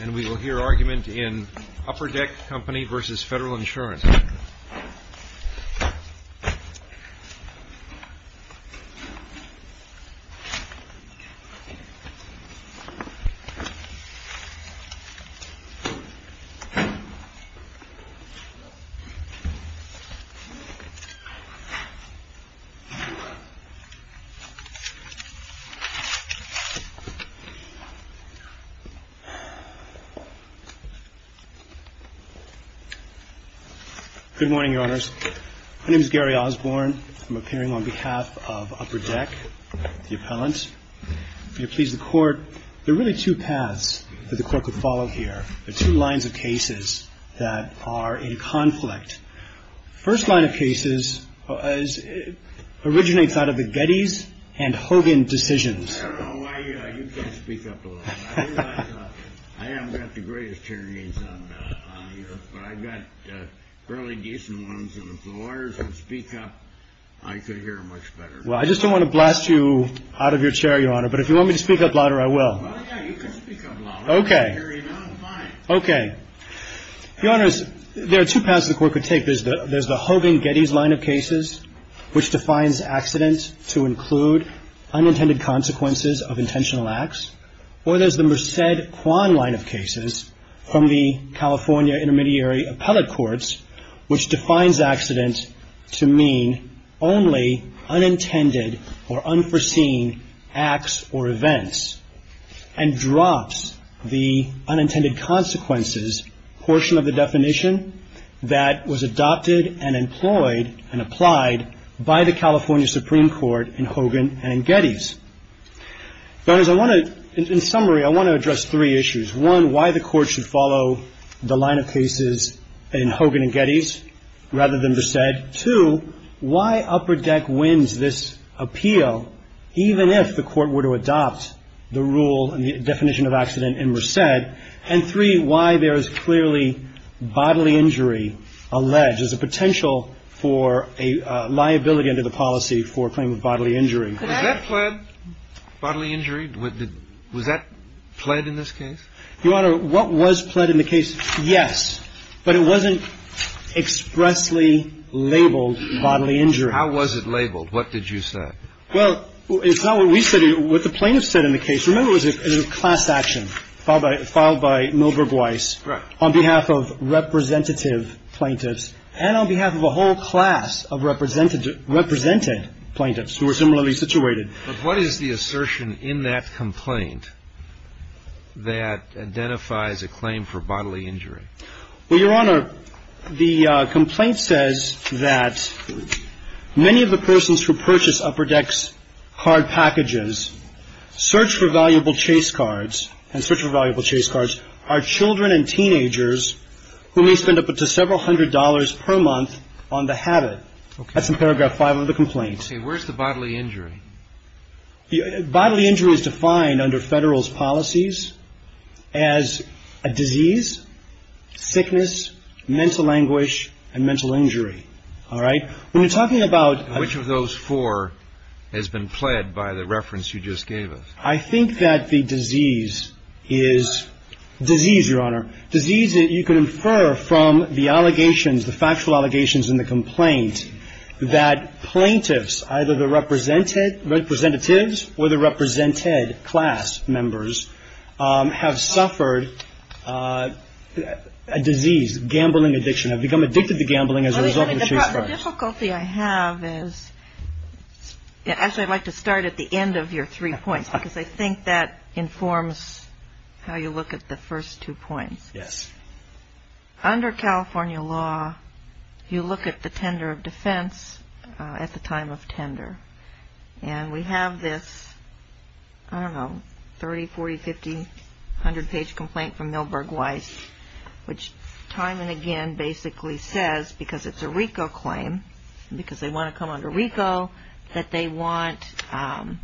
And we will hear argument in Upper Deck Co. v. Federal Insurance. Good morning, Your Honors. My name is Gary Osborne. I'm appearing on behalf of Upper Deck, the appellant. If you'll please the Court, there are really two paths that the Court could follow here, the two lines of cases that are in conflict. The first line of cases originates out of the Gettys and Hogan decisions. I don't know why you can't speak up a little. I realize I haven't got the greatest hearing aids on here, but I've got fairly decent ones. And if the lawyers would speak up, I could hear much better. Well, I just don't want to blast you out of your chair, Your Honor, but if you want me to speak up louder, I will. Well, yeah, you can speak up louder. I can't hear you now. I'm fine. Okay. Your Honors, there are two paths the Court could take. There's the Hogan-Gettys line of cases, which defines accident to include unintended consequences of intentional acts. Or there's the Merced-Quann line of cases from the California Intermediary Appellate Courts, which defines accident to mean only unintended or unforeseen acts or events, and drops the unintended consequences portion of the definition that was adopted and employed and applied by the California Supreme Court in Hogan and in Gettys. Your Honors, I want to, in summary, I want to address three issues. One, why the Court should follow the line of cases in Hogan and Gettys rather than Merced. Two, why Upper Deck wins this appeal even if the Court were to adopt the rule and the definition of accident in Merced. And three, why there is clearly bodily injury alleged as a potential for a liability under the policy for a claim of bodily injury. Was that pled bodily injury? Was that pled in this case? Your Honor, what was pled in the case, yes, but it wasn't expressly labeled bodily injury. How was it labeled? What did you say? Well, it's not what we said. What the plaintiffs said in the case, remember, was a class action filed by Milberg Weiss on behalf of representative plaintiffs and on behalf of a whole class of represented plaintiffs who were similarly situated. But what is the assertion in that complaint that identifies a claim for bodily injury? Well, Your Honor, the complaint says that many of the persons who purchase Upper Deck's card packages search for valuable chase cards and search for valuable chase cards are children and teenagers who may spend up to several hundred dollars per month on the habit. That's in paragraph five of the complaint. Okay. Where's the bodily injury? Bodily injury is defined under Federal's policies as a disease, sickness, mental anguish, and mental injury. All right? When you're talking about Which of those four has been pled by the reference you just gave us? I think that the disease is disease, Your Honor, disease that you can infer from the allegations, the factual allegations in the complaint, that plaintiffs, either the representatives or the represented class members have suffered a disease, gambling addiction, have become addicted to gambling as a result of the chase card. The difficulty I have is, actually, I'd like to start at the end of your three points because I think that informs how you look at the first two points. Yes. Under California law, you look at the tender of defense at the time of tender. And we have this, I don't know, 30, 40, 50, 100-page complaint from Milberg Weiss, which time and again basically says, because it's a RICO claim, because they want to come under RICO, that they want, the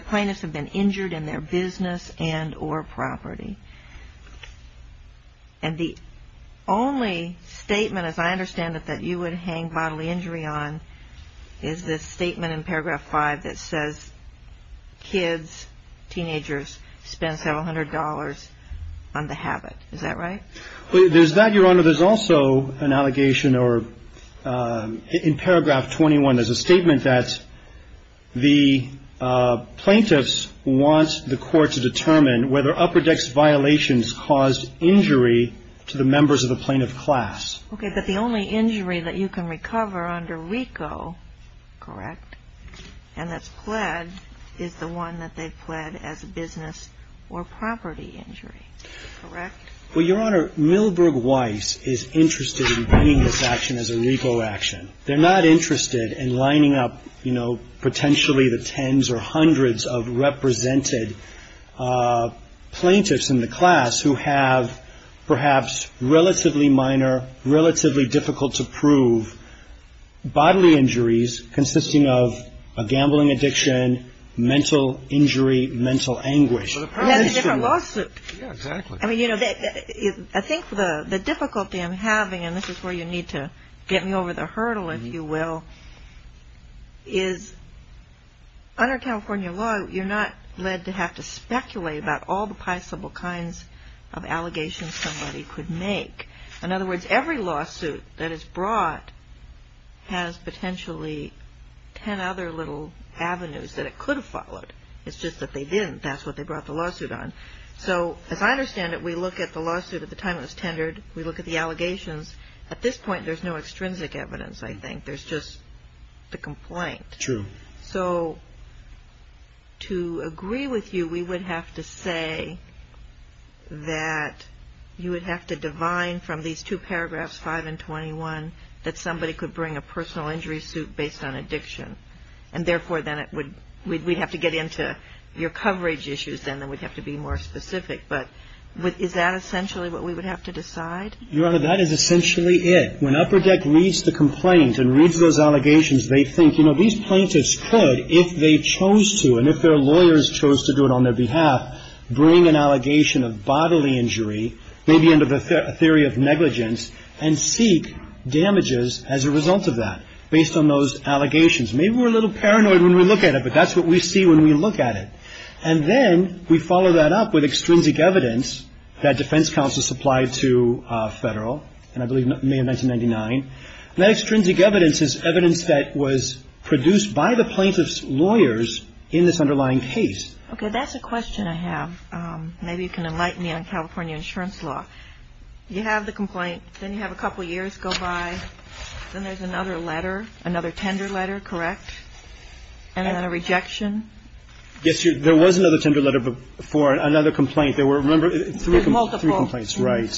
plaintiffs have been injured in their business and or property. And the only statement, as I understand it, that you would hang bodily injury on is this statement in paragraph five that says, kids, teenagers, spend $700 on the habit. Is that right? There's that, Your Honor. There's also an allegation or, in paragraph 21, there's a statement that the plaintiffs want the court to determine whether Upperdeck's violations caused injury to the members of the plaintiff class. Okay. But the only injury that you can recover under RICO, correct, and that's pled, is the one that they pled as a business or property injury, correct? Well, Your Honor, Milberg Weiss is interested in getting this action as a RICO action. They're not interested in lining up, you know, potentially the tens or hundreds of represented plaintiffs in the class who have perhaps relatively minor, relatively difficult-to-prove bodily injuries consisting of a gambling addiction, mental injury, mental anguish. That's a different lawsuit. Yeah, exactly. I mean, you know, I think the difficulty I'm having, and this is where you need to get me over the hurdle, if you will, is under California law you're not led to have to speculate about all the possible kinds of allegations somebody could make. In other words, every lawsuit that is brought has potentially ten other little avenues that it could have followed. It's just that they didn't. That's what they brought the lawsuit on. So as I understand it, we look at the lawsuit at the time it was tendered. We look at the allegations. At this point, there's no extrinsic evidence, I think. There's just the complaint. True. So to agree with you, we would have to say that you would have to divine from these two paragraphs, 5 and 21, that somebody could bring a personal injury suit based on addiction, and therefore then it would we'd have to get into your coverage issues then that we'd have to be more specific. But is that essentially what we would have to decide? Your Honor, that is essentially it. When Upper Deck reads the complaint and reads those allegations, they think, you know, these plaintiffs could, if they chose to and if their lawyers chose to do it on their behalf, bring an allegation of bodily injury, maybe under the theory of negligence, and seek damages as a result of that based on those allegations. Maybe we're a little paranoid when we look at it, but that's what we see when we look at it. And then we follow that up with extrinsic evidence that defense counsel supplied to Federal, and I believe May of 1999. That extrinsic evidence is evidence that was produced by the plaintiff's lawyers in this underlying case. Okay. That's a question I have. Maybe you can enlighten me on California insurance law. You have the complaint. Then you have a couple years go by. Then there's another letter, another tender letter, correct? And then a rejection. Yes, Your Honor. There was another tender letter before another complaint. There were, remember, three complaints. Multiple. Right.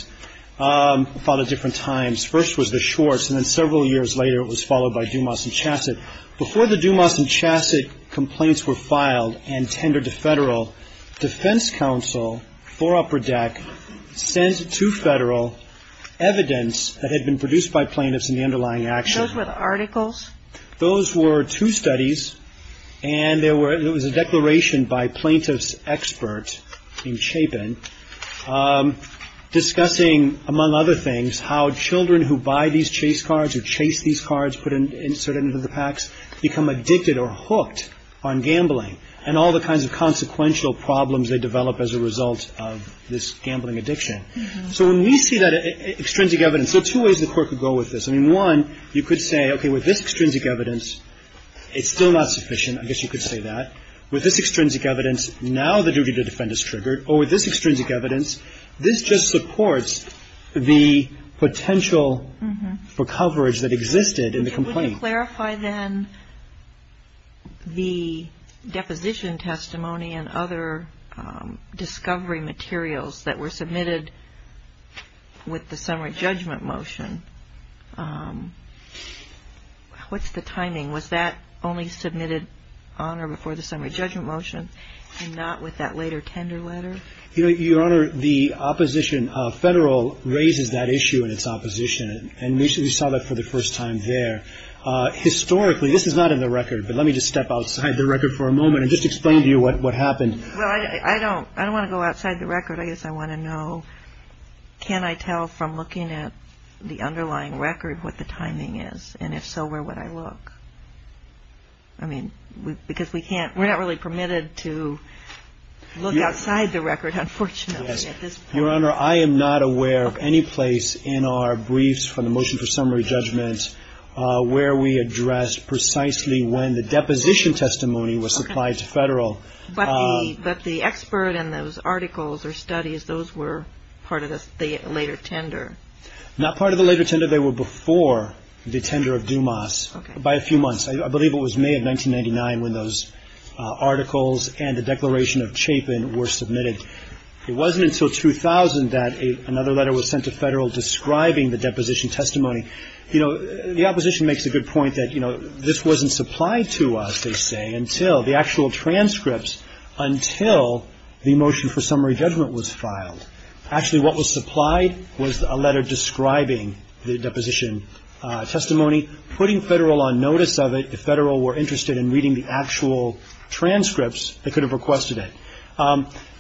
Filed at different times. First was the Schwartz, and then several years later it was followed by Dumas and Chassett. Before the Dumas and Chassett complaints were filed and tendered to Federal, defense counsel for Upper Deck sent to Federal evidence that had been produced by plaintiffs in the underlying action. Those were the articles? Those were two studies, and there was a declaration by a plaintiff's expert named Chapin discussing, among other things, how children who buy these chase cards or chase these cards inserted into the packs become addicted or hooked on gambling and all the kinds of consequential problems they develop as a result of this gambling addiction. So when we see that extrinsic evidence, there are two ways the Court could go with this. I mean, one, you could say, okay, with this extrinsic evidence, it's still not sufficient. I guess you could say that. With this extrinsic evidence, now the duty to defend is triggered. Or with this extrinsic evidence, this just supports the potential for coverage that existed in the complaint. Can you clarify, then, the deposition testimony and other discovery materials that were submitted with the summary judgment motion? What's the timing? Was that only submitted on or before the summary judgment motion and not with that later tender letter? Your Honor, the opposition of Federal raises that issue in its opposition, and we saw that for the first time there. Historically, this is not in the record, but let me just step outside the record for a moment and just explain to you what happened. Well, I don't want to go outside the record. I guess I want to know, can I tell from looking at the underlying record what the timing is, and if so, where would I look? I mean, because we're not really permitted to look outside the record, unfortunately, at this point. Your Honor, I am not aware of any place in our briefs from the motion for summary judgment where we addressed precisely when the deposition testimony was supplied to Federal. But the expert and those articles or studies, those were part of the later tender. Not part of the later tender. They were before the tender of Dumas by a few months. I believe it was May of 1999 when those articles and the declaration of Chapin were submitted. It wasn't until 2000 that another letter was sent to Federal describing the deposition testimony. You know, the opposition makes a good point that, you know, this wasn't supplied to us, they say, until the actual transcripts, until the motion for summary judgment was filed. Actually, what was supplied was a letter describing the deposition testimony, putting Federal on notice of it. If Federal were interested in reading the actual transcripts, they could have requested it.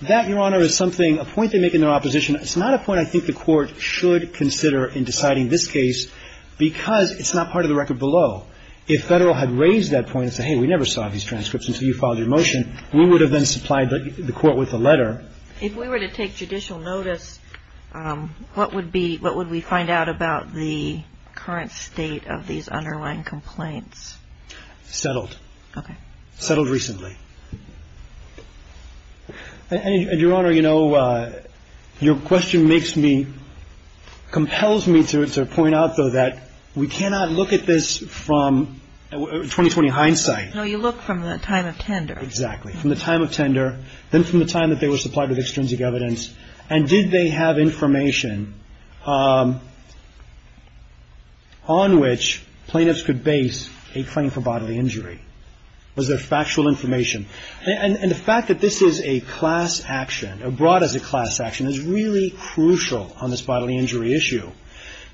That, Your Honor, is something, a point they make in their opposition. It's not a point I think the Court should consider in deciding this case because it's not part of the record below. If Federal had raised that point and said, hey, we never saw these transcripts until you filed your motion, we would have then supplied the Court with a letter. If we were to take judicial notice, what would be, what would we find out about the current state of these underlying complaints? Settled. Okay. Settled recently. And, Your Honor, you know, your question makes me, compels me to point out, though, that we cannot look at this from 2020 hindsight. No, you look from the time of tender. Exactly. From the time of tender, then from the time that they were supplied with extrinsic evidence. And did they have information on which plaintiffs could base a claim for bodily injury? Was there factual information? And the fact that this is a class action, brought as a class action, is really crucial on this bodily injury issue.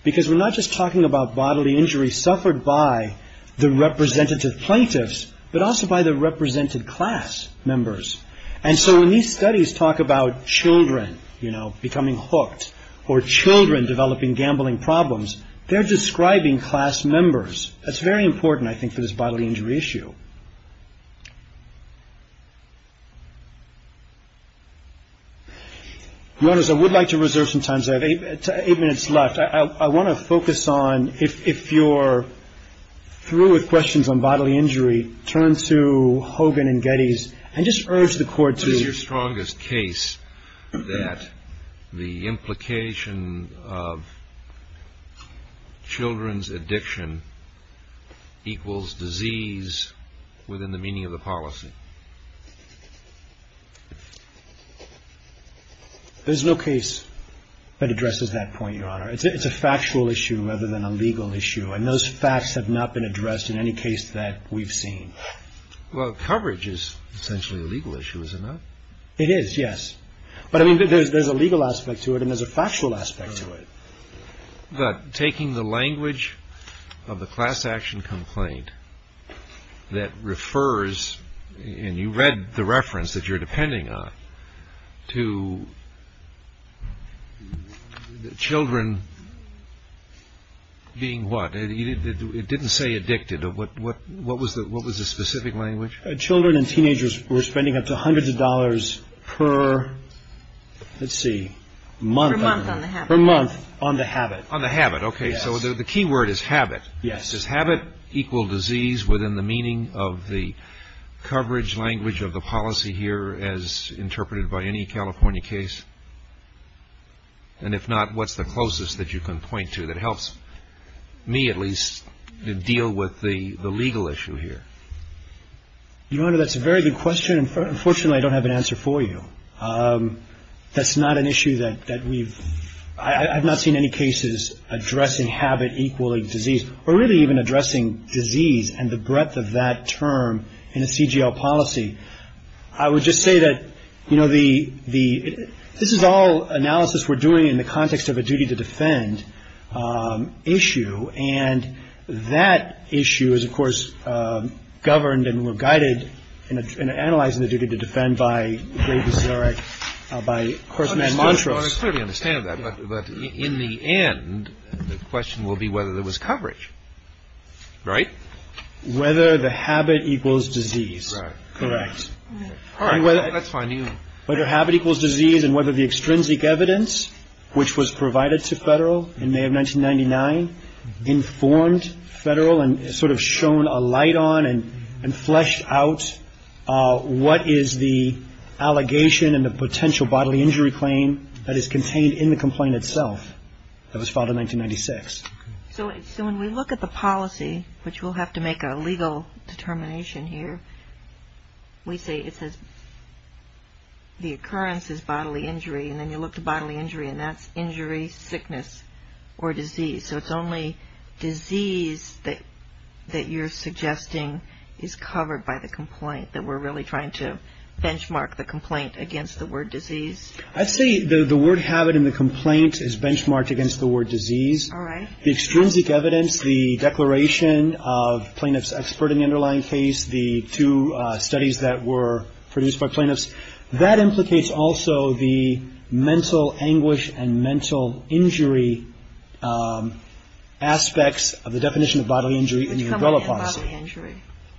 Because we're not just talking about bodily injury suffered by the representative plaintiffs, but also by the represented class members. And so when these studies talk about children, you know, becoming hooked, or children developing gambling problems, they're describing class members. That's very important, I think, for this bodily injury issue. Your Honors, I would like to reserve some time. I have eight minutes left. I want to focus on, if you're through with questions on bodily injury, turn to Hogan and Geddes, and just urge the Court to What is your strongest case that the implication of children's addiction equals disease within the meaning of the policy? There's no case that addresses that point, Your Honor. It's a factual issue rather than a legal issue. And those facts have not been addressed in any case that we've seen. Well, coverage is essentially a legal issue, isn't it? It is, yes. But, I mean, there's a legal aspect to it, and there's a factual aspect to it. But taking the language of the class action complaint that refers, and you read the reference that you're depending on, to children being what? It didn't say addicted. What was the specific language? Children and teenagers were spending up to hundreds of dollars per, let's see, month. Per month on the habit. Per month on the habit. On the habit, okay. So the key word is habit. Yes. Does habit equal disease within the meaning of the coverage language of the policy here, as interpreted by any California case? And if not, what's the closest that you can point to that helps me, at least, deal with the legal issue here? Your Honor, that's a very good question. Unfortunately, I don't have an answer for you. That's not an issue that we've, I've not seen any cases addressing habit equaling disease, or really even addressing disease and the breadth of that term in a CGL policy. I would just say that, you know, the, this is all analysis we're doing in the context of a duty to defend issue, and that issue is, of course, governed and guided in analyzing the duty to defend by Gray v. Zarek, by Korsman and Montrose. I clearly understand that, but in the end, the question will be whether there was coverage, right? Whether the habit equals disease. Correct. All right, let's find you. Whether habit equals disease and whether the extrinsic evidence, which was provided to Federal in May of 1999, informed Federal and sort of shone a light on and fleshed out what is the allegation and the potential bodily injury claim that is contained in the complaint itself that was filed in 1996. So when we look at the policy, which we'll have to make a legal determination here, we say it says the occurrence is bodily injury, and then you look to bodily injury, and that's injury, sickness, or disease. So it's only disease that you're suggesting is covered by the complaint, that we're really trying to benchmark the complaint against the word disease. I'd say the word habit in the complaint is benchmarked against the word disease. All right. The extrinsic evidence, the declaration of plaintiff's expert in the underlying case, the two studies that were produced by plaintiffs, that implicates also the mental anguish and mental injury aspects of the definition of bodily injury in the umbrella policy.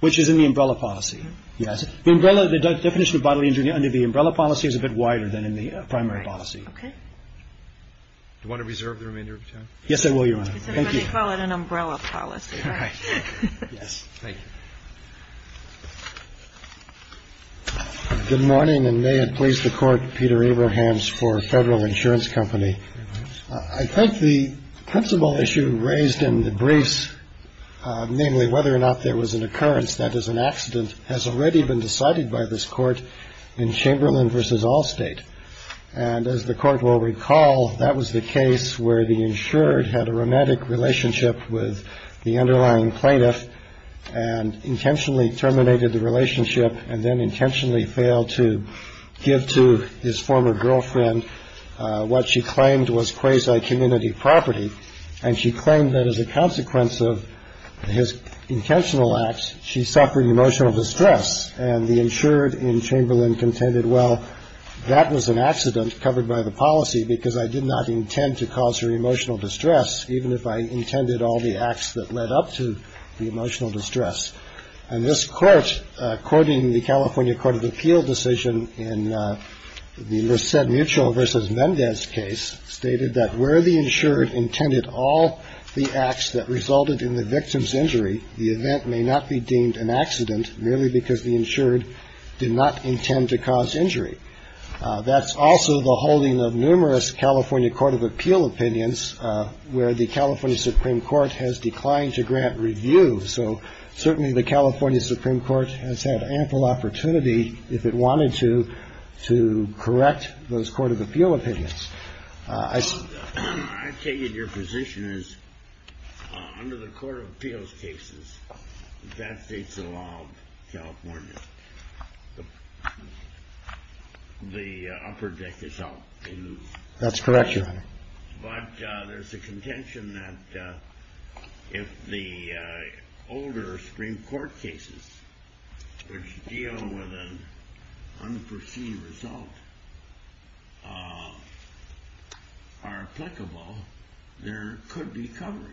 Which is in the umbrella policy. Yes. The definition of bodily injury under the umbrella policy is a bit wider than in the primary policy. All right. Okay. Do you want to reserve the remainder of your time? Yes, I will, Your Honor. Thank you. But they call it an umbrella policy. All right. Yes. Thank you. Good morning, and may it please the Court, Peter Abrahams for Federal Insurance Company. I think the principal issue raised in the briefs, namely whether or not there was an occurrence that is an accident, has already been decided by this Court in Chamberlain v. Allstate. And as the Court will recall, that was the case where the insured had a romantic relationship with the underlying plaintiff and intentionally terminated the relationship and then intentionally failed to give to his former girlfriend what she claimed was quasi community property. And she claimed that as a consequence of his intentional acts, she suffered emotional distress. And the insured in Chamberlain contended, well, that was an accident covered by the policy because I did not intend to cause her emotional distress, even if I intended all the acts that led up to the emotional distress. And this Court, quoting the California Court of Appeal decision in the Lucette Mutual v. Mendez case, stated that where the insured intended all the acts that resulted in the victim's injury, the event may not be deemed an accident merely because the insured did not intend to cause injury. That's also the holding of numerous California Court of Appeal opinions where the California Supreme Court has declined to grant review. So certainly the California Supreme Court has had ample opportunity, if it wanted to, to correct those Court of Appeal opinions. I take it your position is under the Court of Appeals cases that states the law of California. The upper deck is up. That's correct. But there's a contention that if the older Supreme Court cases deal with an unforeseen result, are applicable, there could be coverage.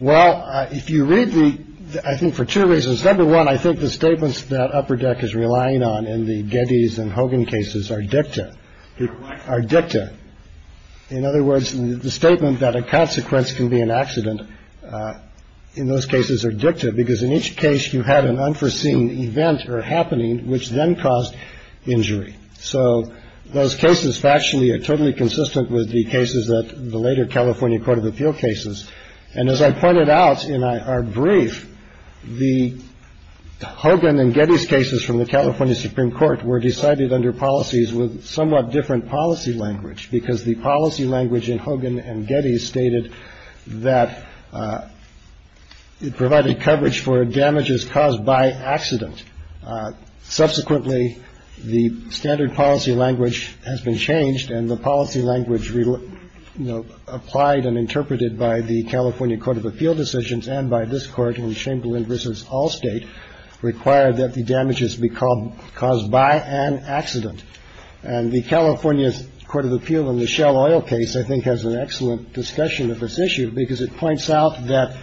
Well, if you read the I think for two reasons. Number one, I think the statements that upper deck is relying on in the Getty's and Hogan cases are dicta dicta. In other words, the statement that a consequence can be an accident in those cases are dicta, because in each case you had an unforeseen event or happening which then caused injury. So those cases actually are totally consistent with the cases that the later California Court of Appeal cases. And as I pointed out in our brief, the Hogan and Getty's cases from the California Supreme Court were decided under policies with somewhat different policy language, because the policy language in Hogan and Getty's stated that it provided coverage for damages caused by accident. Subsequently, the standard policy language has been changed and the policy language, you know, applied and interpreted by the California Court of Appeal decisions and by this court in Chamberlain versus all state, required that the damages be called caused by an accident. And the California Court of Appeal in the Shell Oil case, I think, has an excellent discussion of this issue because it points out that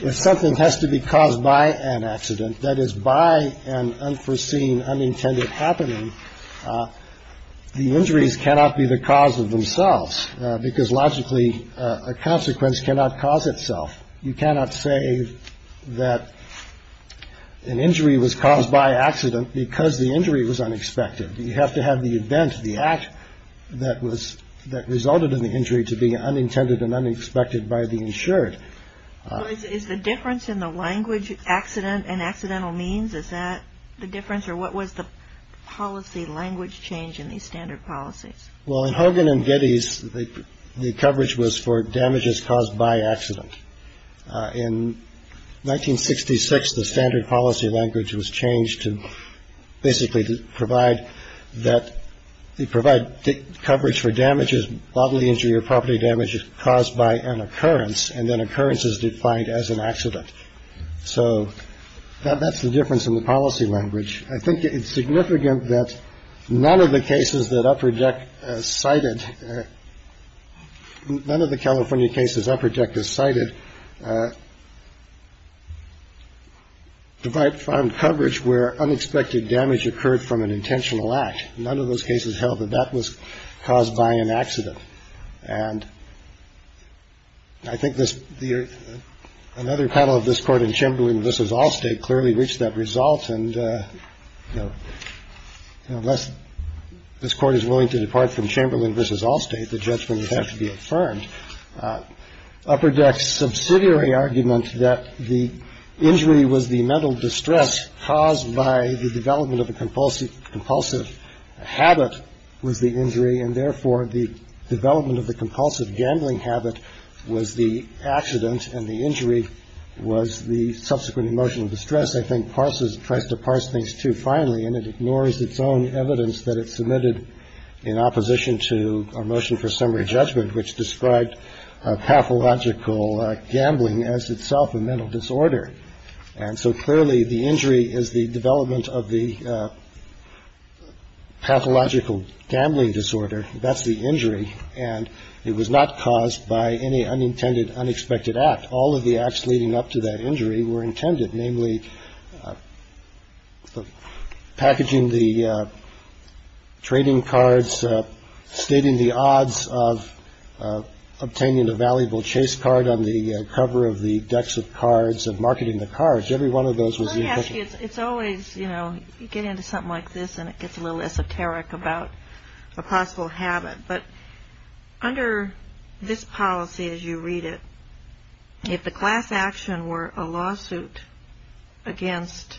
if something has to be caused by an accident, that is by an unforeseen, unintended happening, the injuries cannot be the cause of themselves, because logically a consequence cannot cause itself. You cannot say that an injury was caused by accident because the injury was unexpected. You have to have the event, the act that was that resulted in the injury to be unintended and unexpected by the insured. Is the difference in the language accident and accidental means, is that the difference? Or what was the policy language change in these standard policies? Well, in Hogan and Getty's, the coverage was for damages caused by accident. In 1966, the standard policy language was changed to basically provide that they provide coverage for damages, bodily injury or property damage caused by an occurrence. And then occurrence is defined as an accident. So that's the difference in the policy language. I think it's significant that none of the cases that I project cited, none of the California cases I project is cited, provide coverage where unexpected damage occurred from an intentional act. None of those cases held that that was caused by an accident. And I think this year, another panel of this court in Chamberlain versus Allstate clearly reached that result. And unless this court is willing to depart from Chamberlain versus Allstate, the judgment would have to be affirmed. Upper decks subsidiary argument that the injury was the mental distress caused by the development of a compulsive compulsive habit was the injury. And therefore, the development of the compulsive gambling habit was the accident and the injury was the subsequent emotional distress. I think parses tries to parse things too finely and it ignores its own evidence that it submitted in opposition to our motion for summary judgment, which described pathological gambling as itself a mental disorder. And so clearly the injury is the development of the pathological gambling disorder. That's the injury. And it was not caused by any unintended, unexpected act. All of the acts leading up to that injury were intended, namely packaging the trading cards, stating the odds of obtaining a valuable chase card on the cover of the decks of cards of marketing the cards. Every one of those was. It's always, you know, you get into something like this and it gets a little esoteric about a possible habit. But under this policy, as you read it, if the class action were a lawsuit against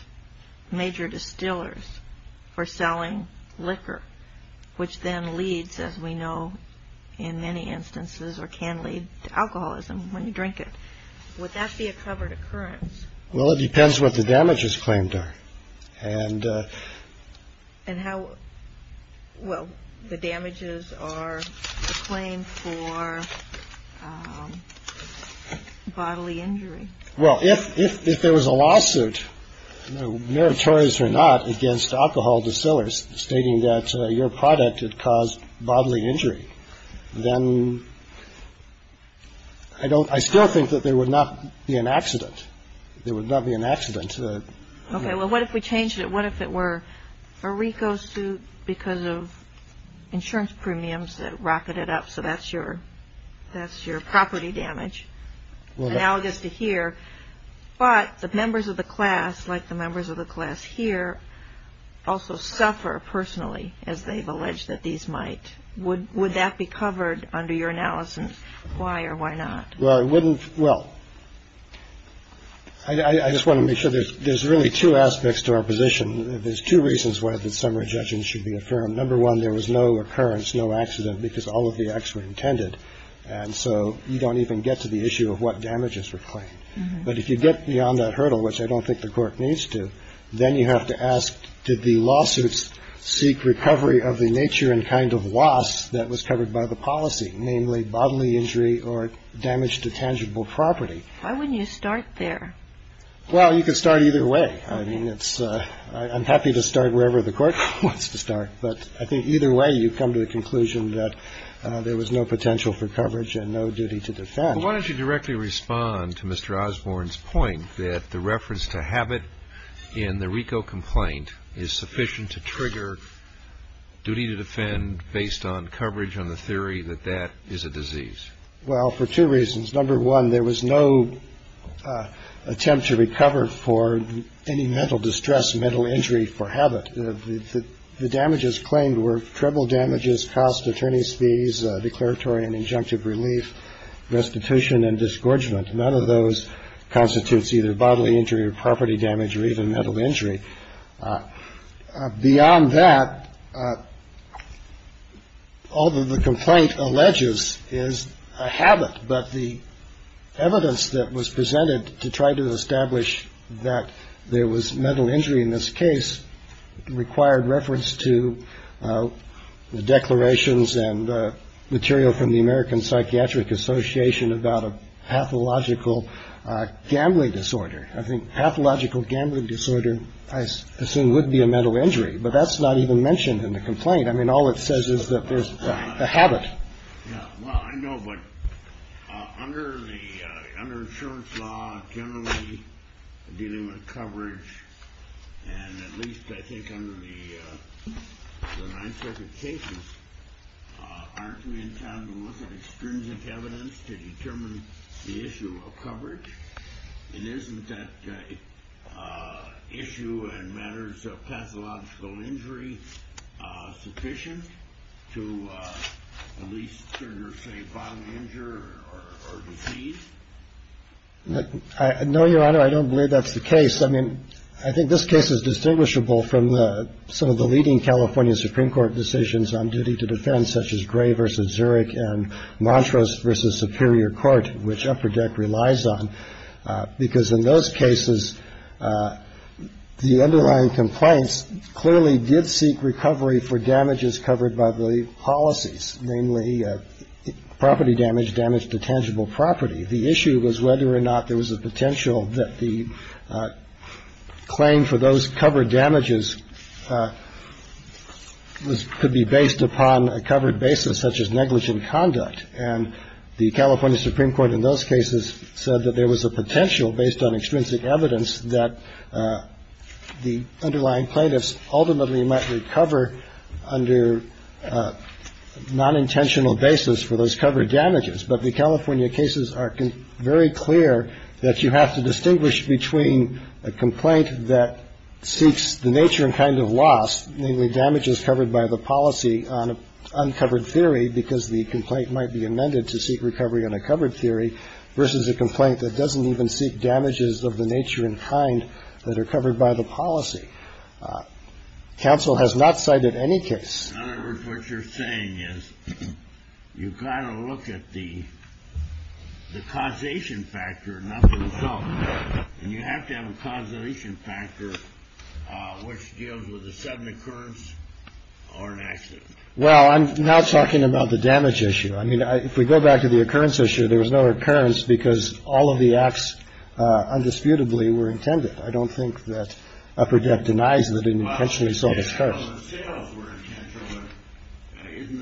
major distillers for selling liquor, which then leads, as we know, in many instances or can lead to alcoholism when you drink it, would that be a covered occurrence? Well, it depends what the damages claimed are and and how well the damages are claimed for bodily injury. Well, if if if there was a lawsuit, meritorious or not, against alcohol distillers stating that your product had caused bodily injury, then I don't I still think that there would not be an accident. There would not be an accident. OK, well, what if we changed it? What if it were a recall suit because of insurance premiums that rocketed up? So that's your that's your property damage. Now it gets to here. But the members of the class, like the members of the class here, also suffer personally as they've alleged that these might would would that be covered under your analysis? Why or why not? Well, I wouldn't. Well, I just want to make sure there's there's really two aspects to our position. There's two reasons why the summary judgment should be affirmed. Number one, there was no occurrence, no accident because all of the acts were intended. And so you don't even get to the issue of what damages were claimed. But if you get beyond that hurdle, which I don't think the court needs to, then you have to ask, did the lawsuits seek recovery of the nature and kind of loss that was covered by the policy, namely bodily injury or damage to tangible property? Why wouldn't you start there? Well, you can start either way. I mean, it's I'm happy to start wherever the court wants to start. But I think either way, you come to the conclusion that there was no potential for coverage and no duty to defend. Why don't you directly respond to Mr. Osborne's point that the reference to habit in the RICO complaint is sufficient to trigger. Duty to defend based on coverage on the theory that that is a disease. Well, for two reasons. Number one, there was no attempt to recover for any mental distress, mental injury for habit. The damages claimed were treble damages, cost attorney's fees, declaratory and injunctive relief. Restitution and disgorgement. None of those constitutes either bodily injury or property damage or even mental injury beyond that. Although the complaint alleges is a habit, but the evidence that was presented to try to establish that there was mental injury in this case required reference to the declarations and material from the American Psychiatric Association about a pathological gambling disorder. I think pathological gambling disorder, I assume, would be a mental injury. But that's not even mentioned in the complaint. I mean, all it says is that there's a habit. Well, I know, but under the insurance law, generally dealing with coverage, and at least I think under the 9th Circuit cases, aren't we in time to look at extrinsic evidence to determine the issue of coverage? It isn't that issue in matters of pathological injury sufficient to at least say bodily injury or disease? No, Your Honor. I don't believe that's the case. I mean, I think this case is distinguishable from some of the leading California Supreme Court decisions on duty to defend, such as Gray v. Zurich and Montrose v. Superior Court, which Upper Deck relies on, because in those cases, the underlying complaints clearly did seek recovery for damages covered by the policies, namely property damage, damage to tangible property. The issue was whether or not there was a potential that the claim for those covered damages could be based upon a covered basis, such as negligent conduct. And the California Supreme Court in those cases said that there was a potential, based on extrinsic evidence, that the underlying plaintiffs ultimately might recover under non-intentional basis for those covered damages. But the California cases are very clear that you have to distinguish between a complaint that seeks the nature and kind of loss, namely damages covered by the policy on uncovered theory, because the complaint might be amended to seek recovery on a covered theory, versus a complaint that doesn't even seek damages of the nature and kind that are covered by the policy. Counsel has not cited any case. What you're saying is you kind of look at the causation factor. And you have to have a causation factor which deals with a sudden occurrence or an accident. Well, I'm not talking about the damage issue. I mean, if we go back to the occurrence issue, there was no occurrence because all of the acts undisputably were intended. I don't think that upper debt denies that it intentionally started. Isn't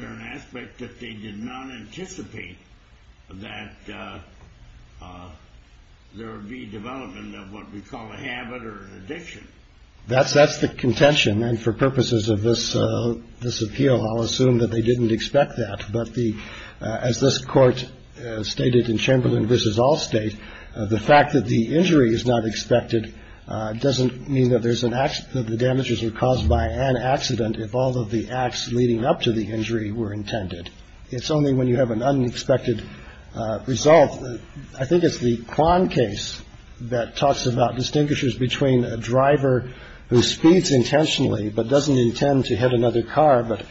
there an aspect that they did not anticipate that there would be development of what we call a habit or addiction? That's that's the contention. And for purposes of this, this appeal, I'll assume that they didn't expect that. But the as this court stated in Chamberlain versus all state, the fact that the injury is not expected doesn't mean that there's an accident. The damages were caused by an accident. If all of the acts leading up to the injury were intended. It's only when you have an unexpected result. I think it's the Kwan case that talks about distinguishes between a driver who speeds intentionally but doesn't intend to hit another car. But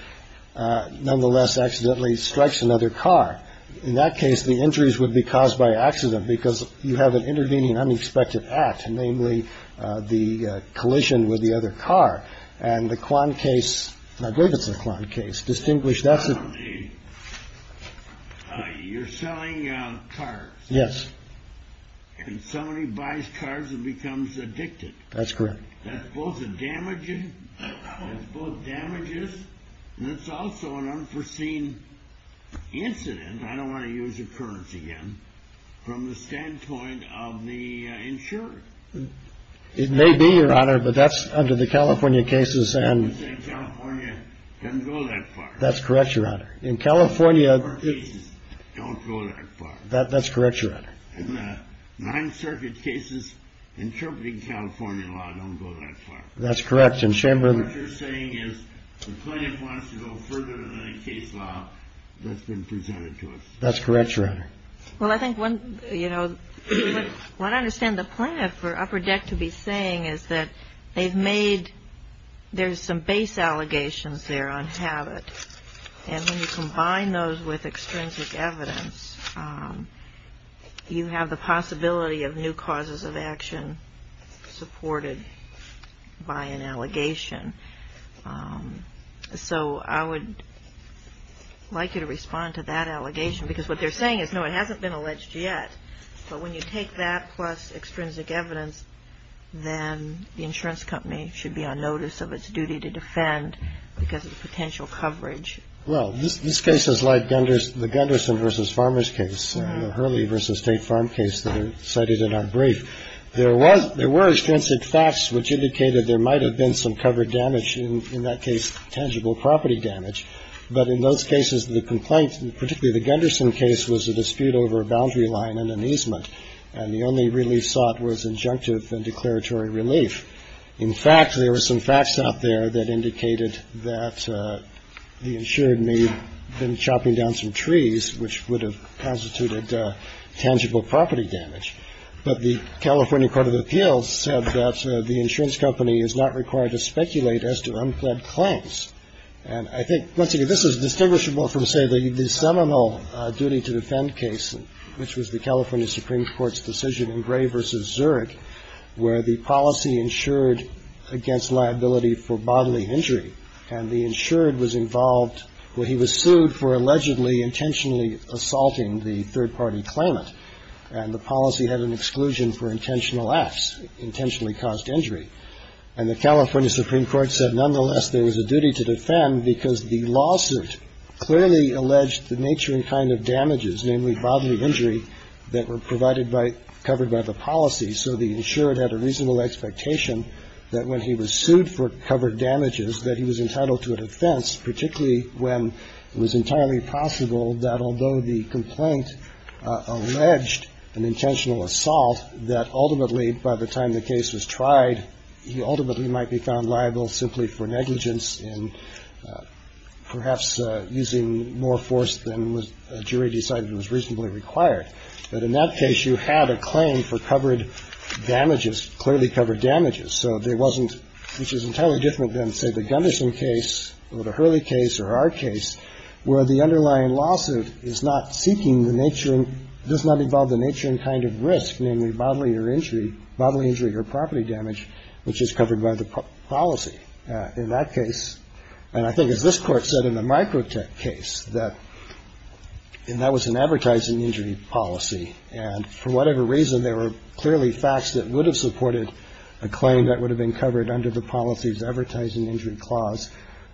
nonetheless, accidentally strikes another car. In that case, the injuries would be caused by accident because you have an intervening unexpected act, namely the collision with the other car and the Kwan case. I believe it's a Kwan case distinguished. That's it. You're selling cars. Yes. And so many buys cars and becomes addicted. That's correct. That's both damaging both damages. And it's also an unforeseen incident. I don't want to use occurrence again. From the standpoint of the insurer, it may be your honor. But that's under the California cases. And that's correct. Your honor in California. Don't go that far. That's correct. Your honor. Nine circuit cases. Interpreting California law. Don't go that far. That's correct. And Chamber saying is the plaintiff wants to go further than a case law that's been presented to us. That's correct. Well, I think when you know what I understand the point for Upper Deck to be saying is that they've made there's some base allegations there on habit. And when you combine those with extrinsic evidence, you have the possibility of new causes of action supported by an allegation. So I would like you to respond to that allegation because what they're saying is, no, it hasn't been alleged yet. But when you take that plus extrinsic evidence, then the insurance company should be on notice of its duty to defend because of the potential coverage. Well, this case is like Gunder's, the Gunderson versus farmers case, Hurley versus State Farm case that are cited in our brief. There was there were extrinsic facts which indicated there might have been some covered damage in that case, tangible property damage. But in those cases, the complaint, particularly the Gunderson case, was a dispute over a boundary line and an easement. And the only relief sought was injunctive and declaratory relief. In fact, there were some facts out there that indicated that the insured may have been chopping down some trees, which would have constituted tangible property damage. But the California Court of Appeals said that the insurance company is not required to speculate as to unfled claims. And I think once again, this is distinguishable from, say, the seminal duty to defend case, which was the California Supreme Court's decision in Gray versus Zurich, where the policy insured against liability for bodily injury. And the insured was involved where he was sued for allegedly intentionally assaulting the third party claimant. And the policy had an exclusion for intentional acts, intentionally caused injury. And the California Supreme Court said nonetheless, there was a duty to defend because the lawsuit clearly alleged the nature and kind of damages, namely bodily injury that were provided by covered by the policy. So the insured had a reasonable expectation that when he was sued for covered damages, that he was entitled to an offense, particularly when it was entirely possible that although the complaint alleged an intentional assault, that ultimately by the time the case was tried, he ultimately might be found liable simply for negligence and perhaps using more force than a jury decided was reasonably required. But in that case, you had a claim for covered damages, clearly covered damages. So there wasn't which is entirely different than, say, the Gunderson case or the Hurley case or our case, where the underlying lawsuit is not seeking the nature and does not involve the nature and kind of risk, namely bodily or injury, bodily injury or property damage, which is covered by the policy in that case. And I think, as this court said in the micro tech case, that that was an advertising injury policy. And for whatever reason, there were clearly facts that would have supported a claim that would have been covered under the policies advertising injury clause.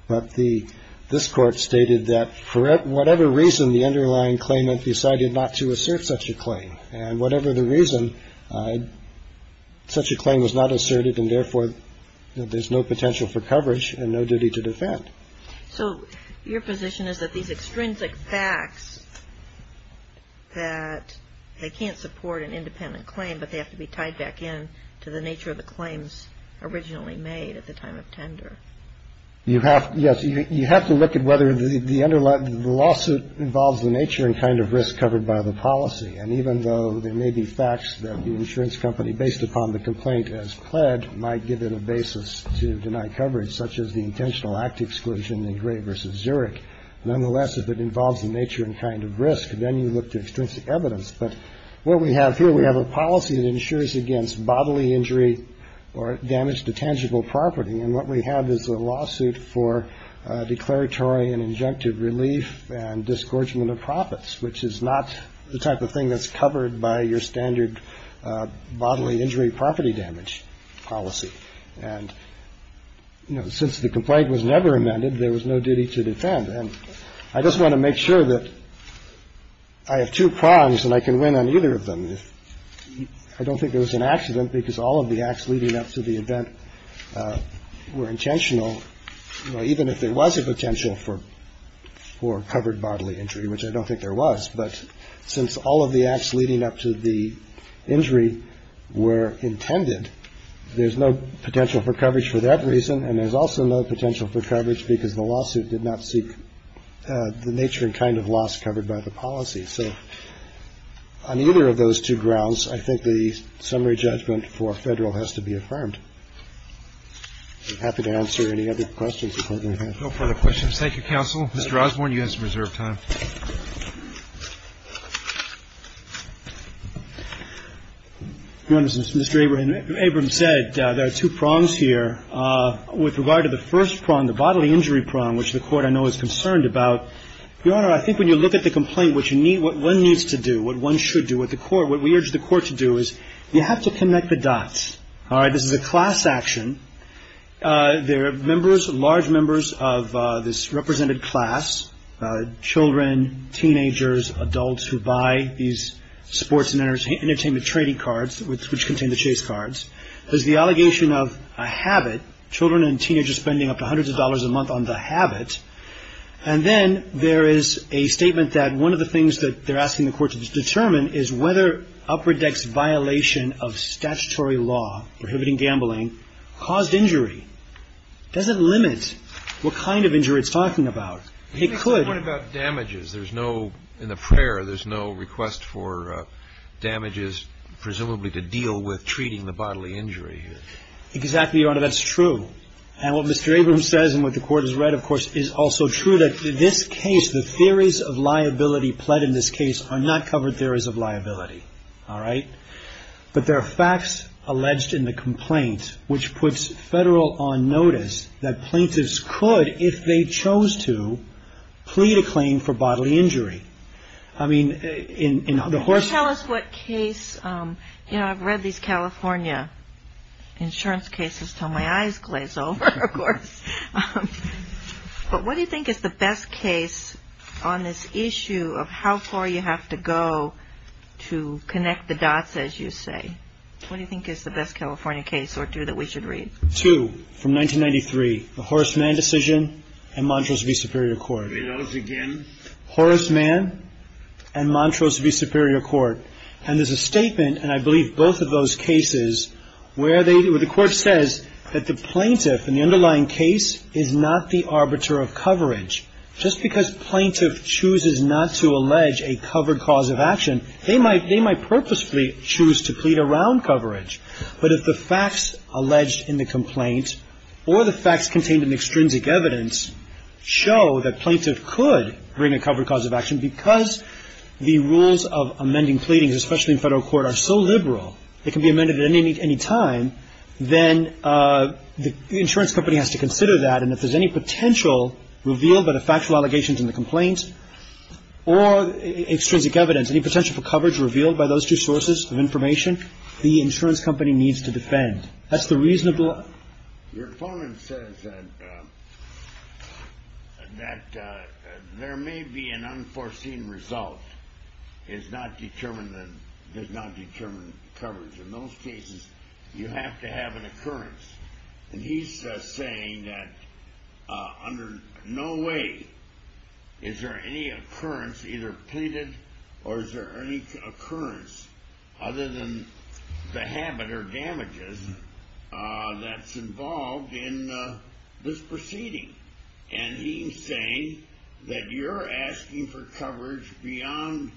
But the this court stated that for whatever reason, the underlying claimant decided not to assert such a claim. And whatever the reason, such a claim was not asserted and therefore there's no potential for coverage and no duty to defend. So your position is that these extrinsic facts that they can't support an independent claim, but they have to be tied back in to the nature of the claims originally made at the time of tender. You have. Yes. You have to look at whether the underlying lawsuit involves the nature and kind of risk covered by the policy. And even though there may be facts that the insurance company, based upon the complaint as pled, might give it a basis to deny coverage such as the intentional act exclusion in Gray versus Zurich. Nonetheless, if it involves the nature and kind of risk, then you look to extrinsic evidence. But what we have here, we have a policy that ensures against bodily injury or damage to tangible property. And what we have is a lawsuit for declaratory and injunctive relief and discouragement of profits, which is not the type of thing that's covered by your standard bodily injury, property damage policy. And since the complaint was never amended, there was no duty to defend. And I just want to make sure that I have two prongs and I can win on either of them. I don't think there was an accident because all of the acts leading up to the event were intentional. Even if there was a potential for or covered bodily injury, which I don't think there was. But since all of the acts leading up to the injury were intended, there's no potential for coverage for that reason. And there's also no potential for coverage because the lawsuit did not seek the nature and kind of loss covered by the policy. So on either of those two grounds, I think the summary judgment for federal has to be affirmed. I'm happy to answer any other questions. If I may have. No further questions. Thank you, counsel. Mr. Osborne, you have some reserve time. Your Honor, as Mr. Abrams said, there are two prongs here. With regard to the first prong, the bodily injury prong, which the Court, I know, is concerned about. Your Honor, I think when you look at the complaint, what you need, what one needs to do, what one should do, what the Court, what we urge the Court to do is you have to connect the dots. All right, this is a class action. There are members, large members of this represented class, children, teenagers, adults who buy these sports and entertainment trading cards, which contain the chase cards. There's the allegation of a habit, children and teenagers spending up to hundreds of dollars a month on the habit. And then there is a statement that one of the things that they're asking the Court to determine is whether Upper Deck's violation of statutory law prohibiting gambling caused injury. Does it limit what kind of injury it's talking about? It could. What about damages? There's no, in the prayer, there's no request for damages, presumably to deal with treating the bodily injury. Exactly, Your Honor, that's true. And what Mr. Abrams says and what the Court has read, of course, is also true, that in this case, the theories of liability pled in this case are not covered theories of liability. All right? But there are facts alleged in the complaint, which puts federal on notice that plaintiffs could, if they chose to, plead a claim for bodily injury. I mean, in the horse- Tell us what case, you know, I've read these California insurance cases till my eyes glaze over, of course. But what do you think is the best case on this issue of how far you have to go to connect the dots, as you say? What do you think is the best California case or two that we should read? Two from 1993, the Horace Mann decision and Montrose v. Superior Court. Read those again. Horace Mann and Montrose v. Superior Court. And there's a statement, and I believe both of those cases, where the Court says that the plaintiff in the underlying case is not the arbiter of coverage. Just because plaintiff chooses not to allege a covered cause of action, they might purposefully choose to plead around coverage. But if the facts alleged in the complaint or the facts contained in the extrinsic evidence show that plaintiff could bring a covered cause of action because the rules of amending pleadings, especially in federal court, are so liberal they can be amended at any time, then the insurance company has to consider that. And if there's any potential revealed by the factual allegations in the complaint or extrinsic evidence, any potential for coverage revealed by those two sources of information, the insurance company needs to defend. That's the reasonable- does not determine coverage. In those cases, you have to have an occurrence. And he's saying that under no way is there any occurrence, either pleaded or is there any occurrence, other than the habit or damages that's involved in this proceeding. And he's saying that you're asking for coverage beyond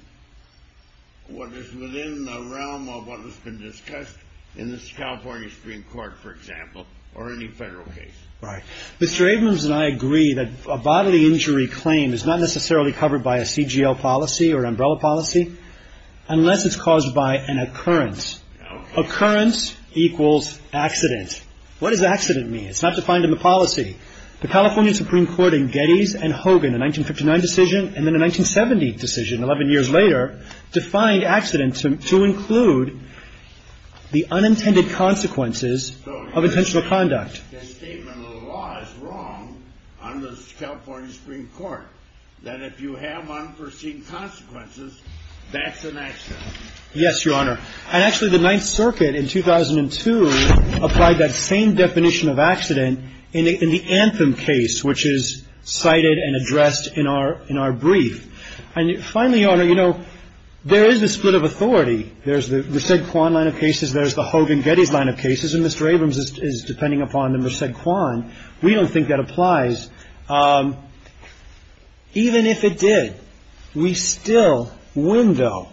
what is within the realm of what has been discussed in this California Supreme Court, for example, or any federal case. Right. Mr. Abrams and I agree that a bodily injury claim is not necessarily covered by a CGL policy or an umbrella policy unless it's caused by an occurrence. Occurrence equals accident. What does accident mean? It's not defined in the policy. The California Supreme Court in Geddes and Hogan, a 1959 decision, and then a 1970 decision 11 years later defined accident to include the unintended consequences of intentional conduct. So you're saying the statement of the law is wrong on the California Supreme Court, that if you have unforeseen consequences, that's an accident. Yes, Your Honor. And actually the Ninth Circuit in 2002 applied that same definition of accident in the Anthem case, which is cited and addressed in our brief. And finally, Your Honor, you know, there is a split of authority. There's the Resedquan line of cases. There's the Hogan-Geddes line of cases. And Mr. Abrams is depending upon the Resedquan. We don't think that applies. Even if it did, we still win, though,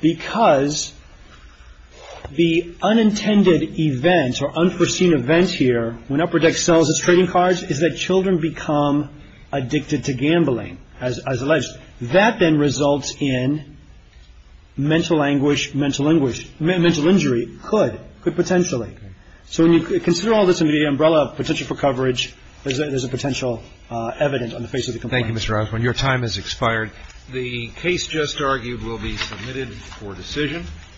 because the unintended event or unforeseen event here, when Upper Deck sells its trading cards, is that children become addicted to gambling, as alleged. That then results in mental anguish, mental anguish, mental injury, could, could potentially. So when you consider all this in the umbrella of potential for coverage, there's a potential evidence on the face of the complaint. Thank you, Mr. Osborne. Your time has expired. The case just argued will be submitted for decision.